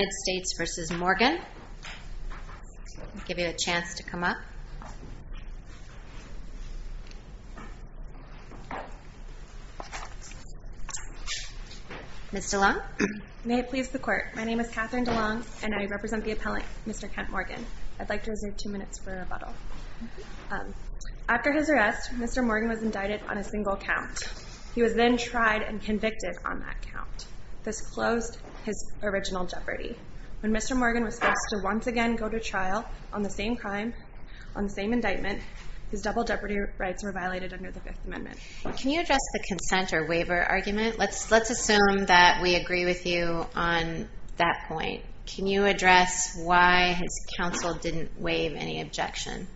United States v. Morgan. I'll give you a chance to come up. Ms. DeLong? May it please the Court, my name is Catherine DeLong and I represent the appellant Mr. Kent Morgan. I'd like to reserve two minutes for rebuttal. After his arrest, Mr. Morgan was indicted on a single count. He was then tried and convicted on that count. This closed his original jeopardy. When Mr. Morgan was forced to once again go to trial on the same crime, on the same indictment, his double jeopardy rights were violated under the Fifth Amendment. Can you address the consent or waiver argument? Let's assume that we agree with you on that point. Can you address why his counsel didn't waive any objection?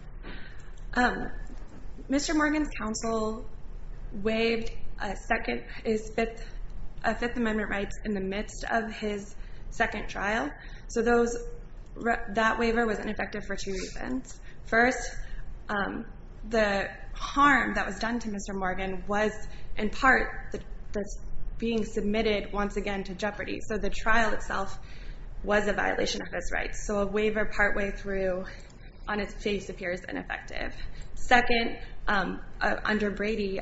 Mr. Morgan was convicted of his second trial. That waiver was ineffective for two reasons. First, the harm that was done to Mr. Morgan was, in part, being submitted once again to jeopardy. So the trial itself was a violation of his rights. So a waiver partway through on its face appears ineffective. Second, under Brady,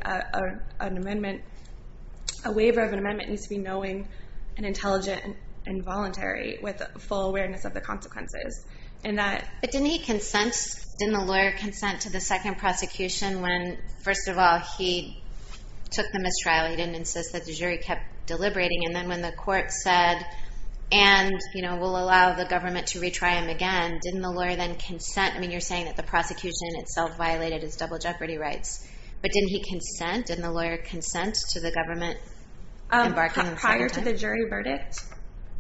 a waiver of an amendment needs to be knowing and intelligent and voluntary with full awareness of the consequences. But didn't he consent? Didn't the lawyer consent to the second prosecution when, first of all, he took the mistrial? He didn't insist that the jury kept deliberating. And then when the court said, and we'll allow the government to retry him again, didn't the lawyer then consent? I mean, you're saying that the prosecution itself violated his double jeopardy rights. But didn't he consent? Didn't the lawyer consent to the government embarking on a second trial? Prior to the jury verdict,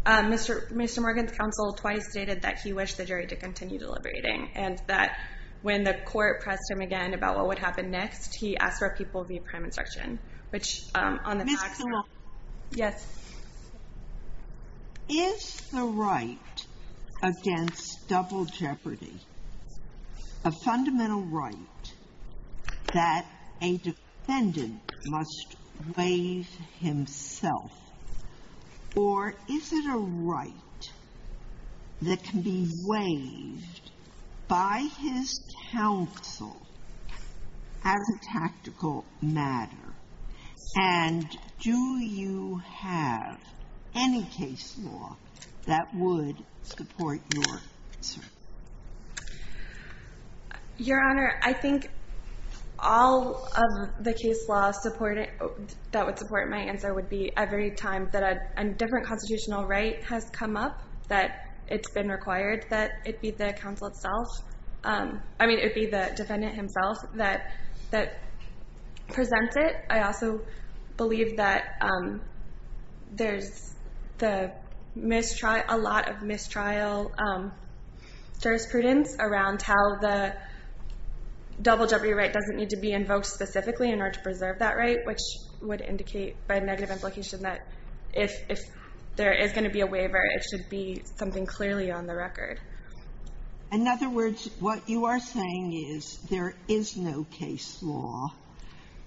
Mr. Morgan's counsel twice stated that he wished the jury to continue deliberating and that when the court pressed him again about what would happen next, he asked for a people-of-view prime instruction, which on the facts are— Ms. Kamal. Yes. Is the right against double jeopardy a fundamental right that a defendant must waive himself? Or is it a right that can be waived by his counsel as a tactical matter? And do you have any case law that would support your answer? Your Honor, I think all of the case law that would support my answer would be every time that a different constitutional right has come up that it's been required that it be the counsel itself—I mean, it be the defendant himself that presents it. I also believe that there's a lot of mistrial jurisprudence around how the double jeopardy right doesn't need to be invoked specifically in order to preserve that right, which would indicate by negative implication that if there is going to be a waiver, it should be something clearly on the record. In other words, what you are saying is there is no case law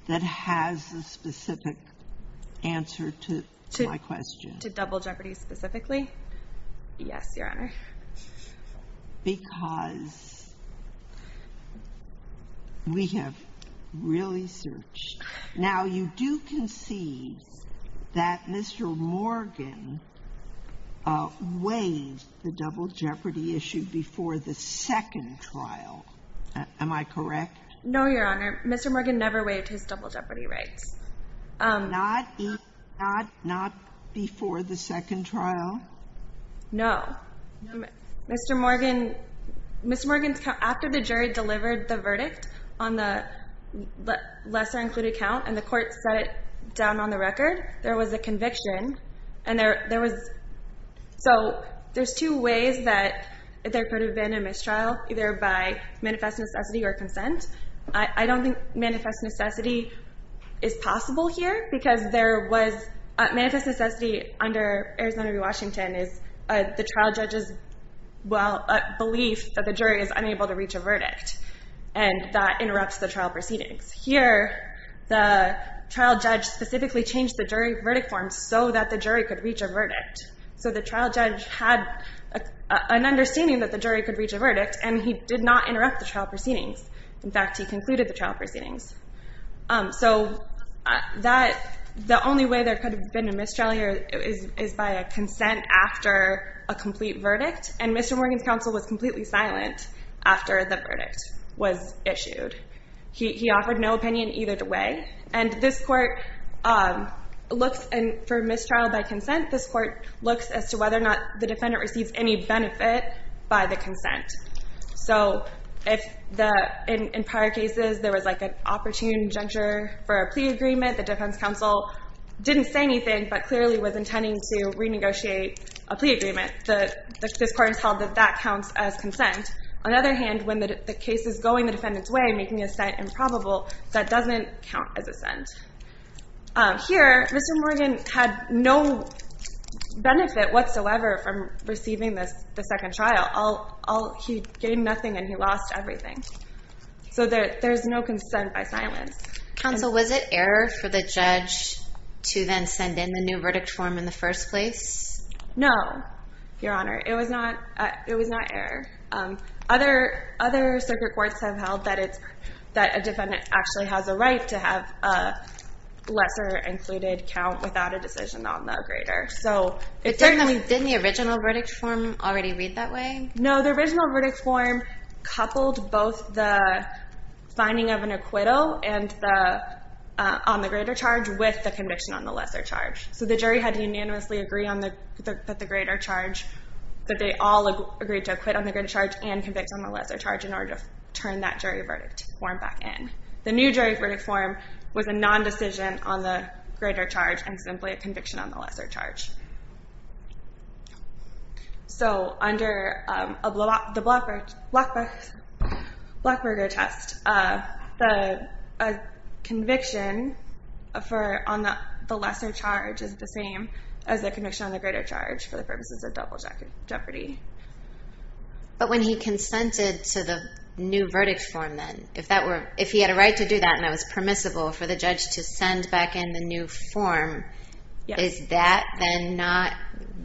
that has a specific answer to my question. To double jeopardy specifically? Yes, Your Honor. Because we have really searched. Now, you do concede that Mr. Morgan waived the double jeopardy issue before the second trial. Am I correct? No, Your Honor. Mr. Morgan never waived his double jeopardy rights. Not before the second trial? No. Mr. Morgan's—after the jury delivered the verdict on the lesser included count and the court set it down on the record, there was a conviction, and there was—so there's two ways that there could have been a mistrial, either by manifest necessity or consent. I don't think manifest necessity is possible here because there was—manifest necessity under Arizona v. Washington is the trial judge's belief that the jury is unable to reach a verdict, and that interrupts the trial proceedings. Here, the trial judge specifically changed the jury verdict form so that the jury could reach a verdict. So the trial judge had an understanding that the jury could reach a In fact, he concluded the trial proceedings. So that—the only way there could have been a mistrial here is by a consent after a complete verdict, and Mr. Morgan's counsel was completely silent after the verdict was issued. He offered no opinion either way, and this court looks—for mistrial by consent, this court looks as to whether or not the defendant receives any benefit by the consent. So if the—in prior cases, there was like an opportune juncture for a plea agreement, the defense counsel didn't say anything but clearly was intending to renegotiate a plea agreement. This court has held that that counts as consent. On the other hand, when the case is going the defendant's way, making a sent improbable, that doesn't count as a sent. Here, Mr. Morgan had no benefit whatsoever from receiving the second trial. He gained nothing and he lost everything. So there's no consent by silence. Counsel, was it error for the judge to then send in the new verdict form in the first place? No, Your Honor. It was not—it was not error. Other circuit courts have held that it's—that the lesser included count without a decision on the greater. So— Didn't the original verdict form already read that way? No, the original verdict form coupled both the finding of an acquittal and the—on the greater charge with the conviction on the lesser charge. So the jury had to unanimously agree on the greater charge, that they all agreed to acquit on the greater charge and convict on the lesser charge in order to turn that jury verdict form back in. The new jury verdict form was a non-decision on the greater charge and simply a conviction on the lesser charge. So under the Blackberger test, the conviction for—on the lesser charge is the same as the conviction on the greater charge for the purposes of double jeopardy. But when he consented to the new verdict form then, if that were—if he had a right to do that and that was permissible for the judge to send back in the new form, is that then not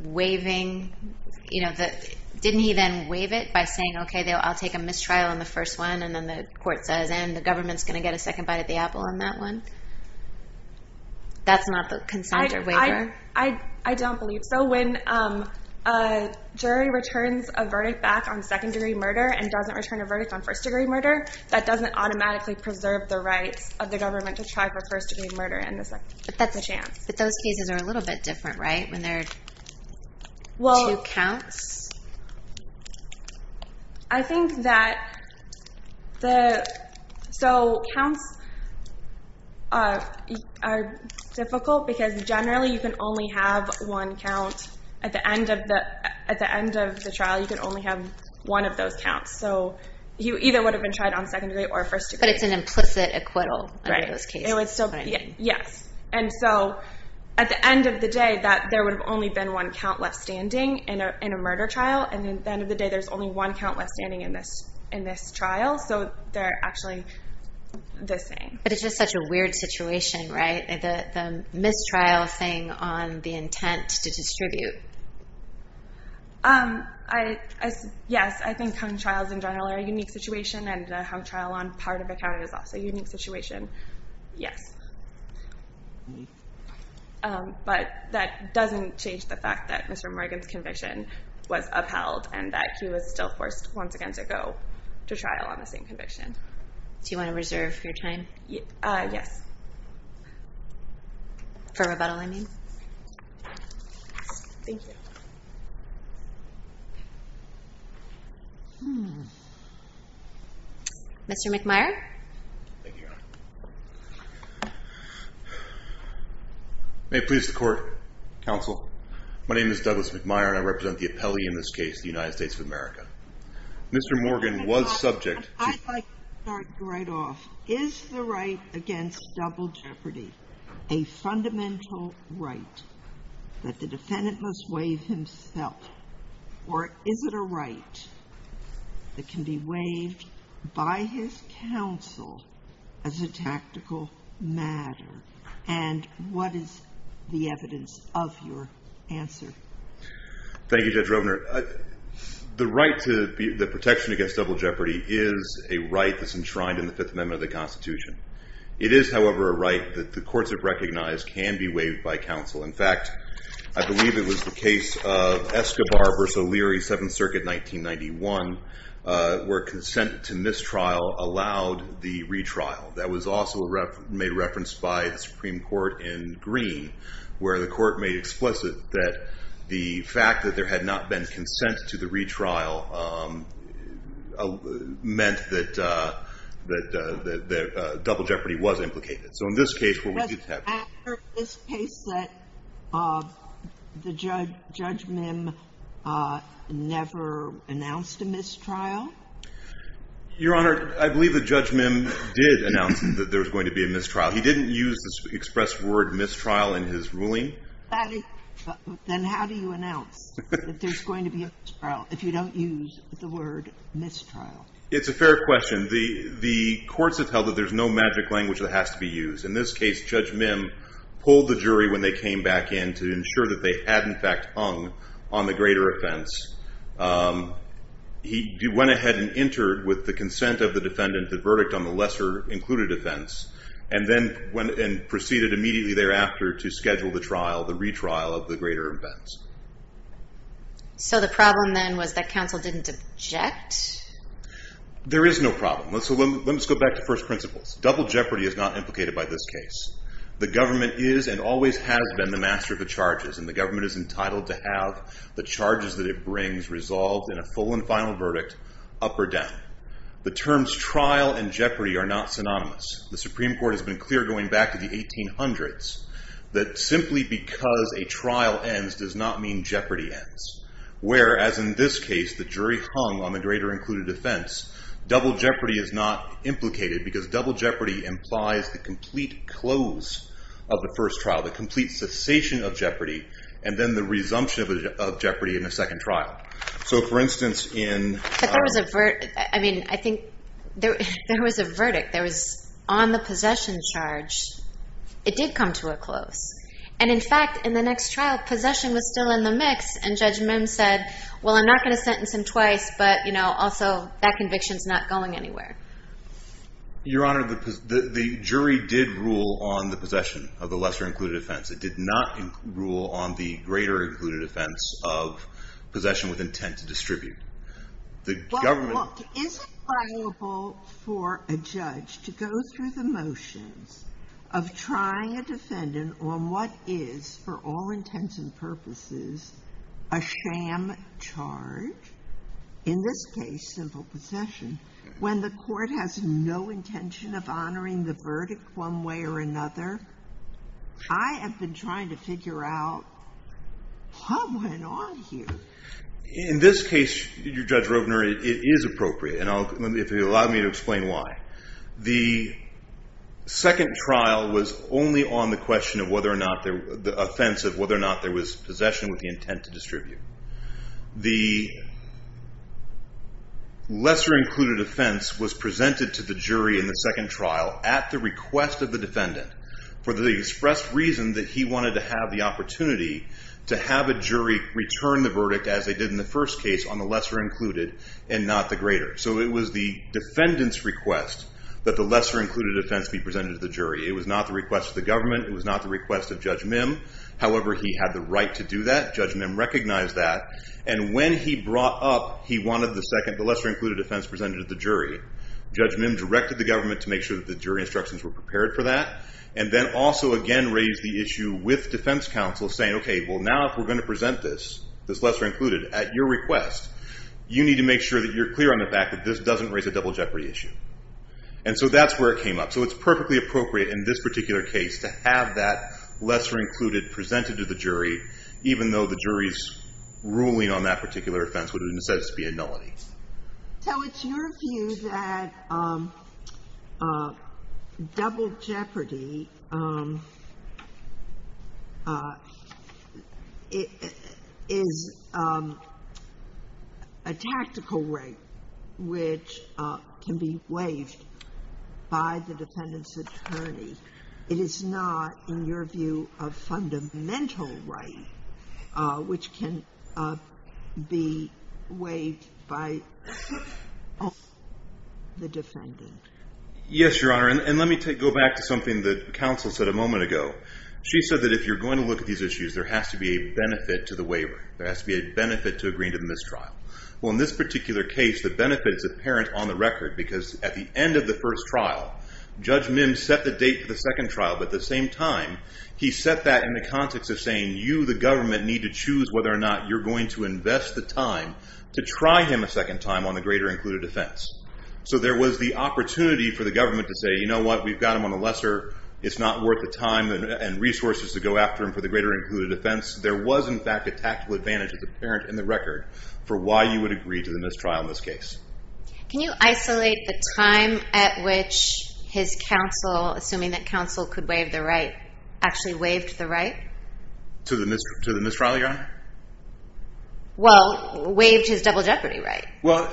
waiving, you know, the—didn't he then waive it by saying, okay, I'll take a mistrial on the first one and then the court says, and the government's going to get a second bite at the apple on that one? That's not the consent or waiver? I don't believe so. When a jury returns a verdict back on second-degree murder and doesn't return a verdict on first-degree murder, that doesn't automatically preserve the rights of the government to try for first-degree murder in the second— But that's a chance. But those cases are a little bit different, right, when there are two counts? I think that the—so, counts are difficult because generally you can only have one count at the end of the—at the end of the trial, you can only have one of those counts. So he either would have been tried on second-degree or first-degree. But it's an implicit acquittal under those cases. Right. It would still be—yes. And so, at the end of the day, that there would have only been one count left standing in a murder trial. And at the end of the day, there's only one count left standing in this trial. So they're actually the same. But it's just such a weird situation, right? The mistrial thing on the intent to distribute. Yes, I think hung trials in general are a unique situation, and a hung trial on part of a count is also a unique situation. Yes. But that doesn't change the fact that Mr. Morgan's conviction was upheld and that he was still forced once again to go to trial on the same conviction. Do you want to reserve your time? Yes. For rebuttal, I mean. Thank you. Hmm. Mr. McMyer? Thank you, Your Honor. May it please the Court? Counsel. My name is Douglas McMyer, and I represent the appellee in this case, the United States of America. Mr. Morgan was subject to— I'd like to start right off. Is the right against double jeopardy a fundamental right that the defendant must waive himself, or is it a right that can be waived by his counsel as a tactical matter? And what is the evidence of your answer? Thank you, Judge Rovner. The right to the protection against double jeopardy is a right that's enshrined in the Fifth Amendment of the Constitution. It is, however, a right that the courts have recognized can be waived by counsel. In fact, I believe it was the case of Escobar v. O'Leary, Seventh Circuit, 1991, where consent to mistrial allowed the retrial. That was also made reference by the Supreme Court in Green, where the court made explicit that the fact that there had not been consent to the retrial meant that double jeopardy was implicated. Was it after this case that Judge Mim never announced a mistrial? Your Honor, I believe that Judge Mim did announce that there was going to be a mistrial. He didn't use the expressed word mistrial in his ruling. Then how do you announce that there's going to be a mistrial if you don't use the word mistrial? It's a fair question. The courts have held that there's no magic language that has to be used. In this case, Judge Mim pulled the jury when they came back in to ensure that they had, in fact, hung on the greater offense. He went ahead and entered with the consent of the defendant, the verdict on the lesser included offense, and then proceeded immediately thereafter to schedule the retrial of the greater offense. So the problem then was that counsel didn't object? There is no problem. Let's go back to first principles. Double jeopardy is not implicated by this case. The government is and always has been the master of the charges, and the government is entitled to have the charges that it brings resolved in a full and final verdict, up or down. The terms trial and jeopardy are not synonymous. The Supreme Court has been clear going back to the 1800s that simply because a trial ends does not mean jeopardy ends, whereas in this case, the jury hung on the greater included offense. Double jeopardy is not implicated because double jeopardy implies the complete close of the first trial, the complete cessation of jeopardy, and then the resumption of jeopardy in a second trial. So, for instance, in— But there was a—I mean, I think there was a verdict that was on the possession charge. It did come to a close. And, in fact, in the next trial, possession was still in the mix, and Judge Mims said, well, I'm not going to sentence him twice, but, you know, also that conviction is not going anywhere. Your Honor, the jury did rule on the possession of the lesser included offense. It did not rule on the greater included offense of possession with intent to distribute. The government— Is it liable for a judge to go through the motions of trying a defendant on what is, for all intents and purposes, a sham charge, in this case simple possession, when the court has no intention of honoring the verdict one way or another? I have been trying to figure out what went on here. In this case, Judge Rovner, it is appropriate, and if you'll allow me to explain why. The second trial was only on the question of whether or not there— the offense of whether or not there was possession with the intent to distribute. The lesser included offense was presented to the jury in the second trial at the request of the defendant for the expressed reason that he wanted to have the opportunity to have a jury return the verdict as they did in the first case on the lesser included and not the greater. So it was the defendant's request that the lesser included offense be presented to the jury. It was not the request of the government. It was not the request of Judge Mim. However, he had the right to do that. Judge Mim recognized that. And when he brought up he wanted the lesser included offense presented to the jury, Judge Mim directed the government to make sure that the jury instructions were prepared for that and then also again raised the issue with defense counsel saying, okay, well, now if we're going to present this, this lesser included, at your request, you need to make sure that you're clear on the fact that this doesn't raise a double jeopardy issue. And so that's where it came up. So it's perfectly appropriate in this particular case to have that lesser included presented to the jury, even though the jury's ruling on that particular offense would have been said to be a nullity. Sotomayor? So it's your view that double jeopardy is a tactical right which can be waived by the defendant's attorney. It is not, in your view, a fundamental right which can be waived by the defendant. Yes, Your Honor. And let me go back to something that counsel said a moment ago. She said that if you're going to look at these issues, there has to be a benefit to the waiver. There has to be a benefit to agreeing to the mistrial. Well, in this particular case, the benefit is apparent on the record because at the end of the first trial, Judge Mims set the date for the second trial. But at the same time, he set that in the context of saying, you, the government, need to choose whether or not you're going to invest the time to try him a second time on the greater included offense. So there was the opportunity for the government to say, you know what? We've got him on the lesser. It's not worth the time and resources to go after him for the greater included offense. There was, in fact, a tactical advantage that's apparent in the record for why you would agree to the mistrial in this case. Can you isolate the time at which his counsel, assuming that counsel could waive the right, actually waived the right? To the mistrial, Your Honor? Well, waived his double jeopardy right. Well,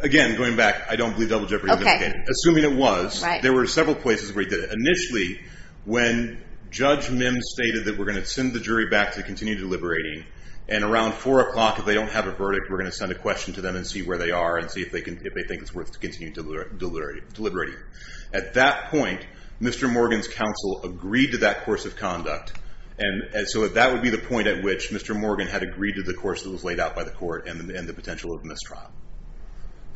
again, going back, I don't believe double jeopardy is indicated. Okay. Assuming it was, there were several places where he did it. Initially, when Judge Mims stated that we're going to send the jury back to continue deliberating and around 4 o'clock, if they don't have a verdict, we're going to send a question to them and see where they are and see if they think it's worth continuing deliberating. At that point, Mr. Morgan's counsel agreed to that course of conduct. And so that would be the point at which Mr. Morgan had agreed to the course that was laid out by the court and the potential of mistrial.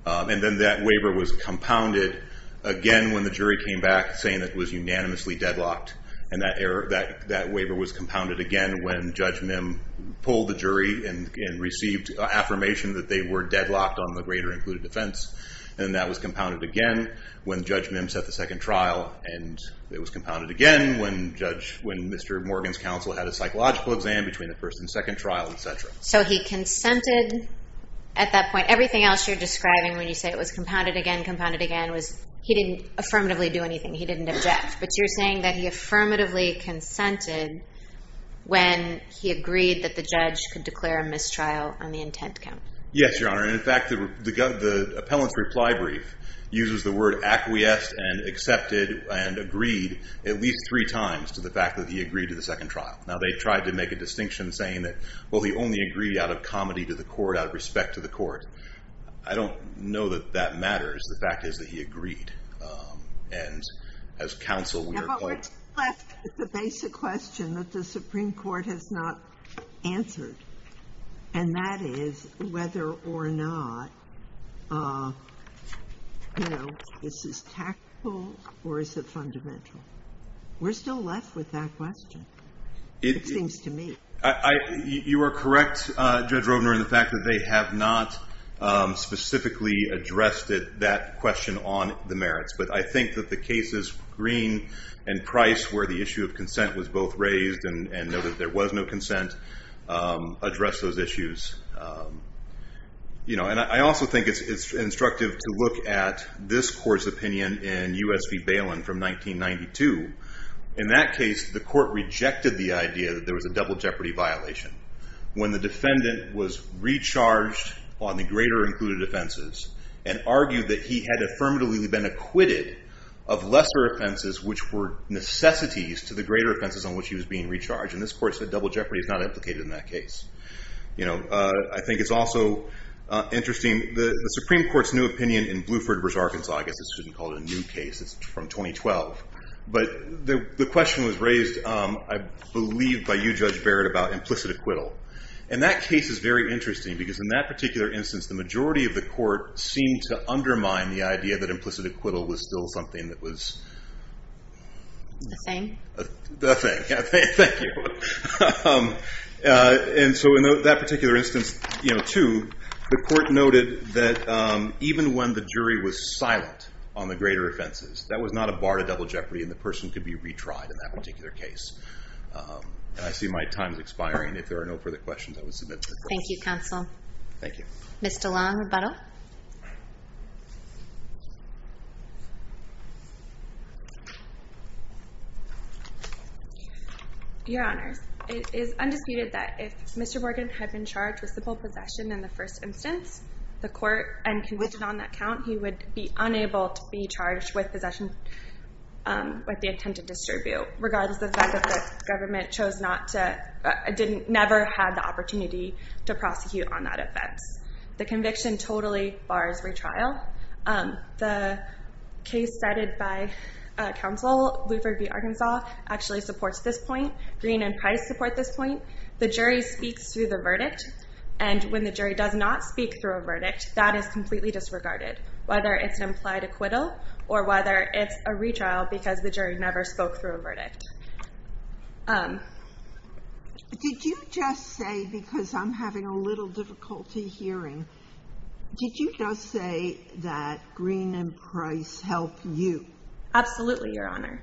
And then that waiver was compounded again when the jury came back saying it was unanimously deadlocked. And that waiver was compounded again when Judge Mims pulled the jury and received affirmation that they were deadlocked on the greater included defense. And that was compounded again when Judge Mims set the second trial. And it was compounded again when Mr. Morgan's counsel had a psychological exam between the first and second trial, et cetera. So he consented at that point. Everything else you're describing when you say it was compounded again, compounded again, was he didn't affirmatively do anything. He didn't object. But you're saying that he affirmatively consented when he agreed that the judge could declare a mistrial on the intent count. Yes, Your Honor. And in fact, the appellant's reply brief uses the word acquiesced and accepted and agreed at least three times to the fact that he agreed to the second trial. Now they tried to make a distinction saying that, well, he only agreed out of comedy to the court, out of respect to the court. I don't know that that matters. The fact is that he agreed. And as counsel, we are quite. Yeah, but we're still left with the basic question that the Supreme Court has not answered. And that is whether or not, you know, is this tactful or is it fundamental? We're still left with that question, it seems to me. You are correct, Judge Rovner, in the fact that they have not specifically addressed it, that question on the merits. But I think that the cases, Green and Price, where the issue of consent was both raised and noted that there was no consent, addressed those issues. You know, and I also think it's instructive to look at this court's opinion in U.S. v. Balin from 1992. In that case, the court rejected the idea that there was a double jeopardy violation. When the defendant was recharged on the greater included offenses and argued that he had affirmatively been acquitted of lesser offenses, which were necessities to the greater offenses on which he was being recharged. And this court said double jeopardy is not implicated in that case. You know, I think it's also interesting, the Supreme Court's new opinion in Bluford v. Arkansas, I guess I shouldn't call it a new case, it's from 2012. But the question was raised, I believe, by you, Judge Barrett, about implicit acquittal. And that case is very interesting because in that particular instance, the majority of the court seemed to undermine the idea that implicit acquittal was still something that was... The thing? The thing, yeah, thank you. And so in that particular instance, you know, too, the court noted that even when the jury was silent on the greater offenses, that was not a bar to double jeopardy and the person could be retried in that particular case. And I see my time is expiring. If there are no further questions, I will submit to the court. Thank you, counsel. Thank you. Ms. DeLong, rebuttal. Your Honors, it is undisputed that if Mr. Morgan had been charged with simple possession in the first instance, the court, and convicted on that count, he would be unable to be charged with possession with the intent to distribute, regardless of the fact that the government chose not to... never had the opportunity to prosecute on that offense. The conviction totally bars retrial. The case cited by counsel, Bluford v. Arkansas, actually supports this point. Green and Price support this point. The jury speaks through the verdict, and when the jury does not speak through a verdict, that is completely disregarded, whether it's an implied acquittal or whether it's a retrial because the jury never spoke through a verdict. Did you just say, because I'm having a little difficulty hearing, did you just say that Green and Price help you? Absolutely, Your Honor.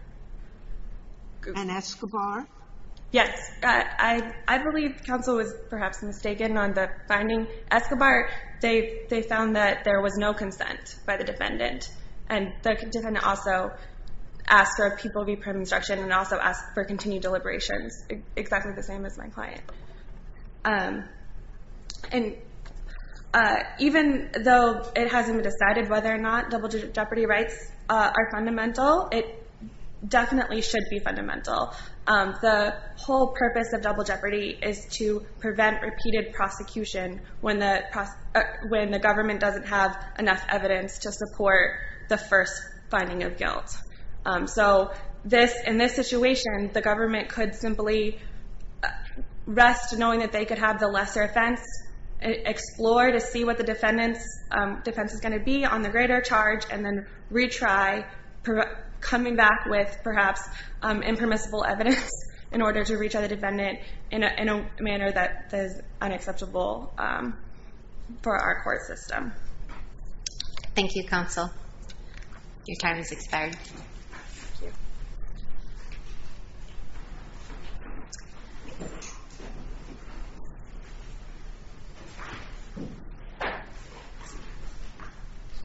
And Escobar? Yes, I believe counsel was perhaps mistaken on the finding. Escobar, they found that there was no consent by the defendant, and the defendant also asked for people to be put on instruction and also asked for continued deliberations, exactly the same as my client. And even though it hasn't been decided whether or not double jeopardy rights are fundamental, it definitely should be fundamental. The whole purpose of double jeopardy is to prevent repeated prosecution when the government doesn't have enough evidence to support the first finding of guilt. So in this situation, the government could simply rest knowing that they could have the lesser offense, explore to see what the defendant's defense is going to be on the greater charge, and then retry coming back with perhaps impermissible evidence in order to reach out to the defendant in a manner that is unacceptable for our court system. Thank you, counsel. Your time has expired.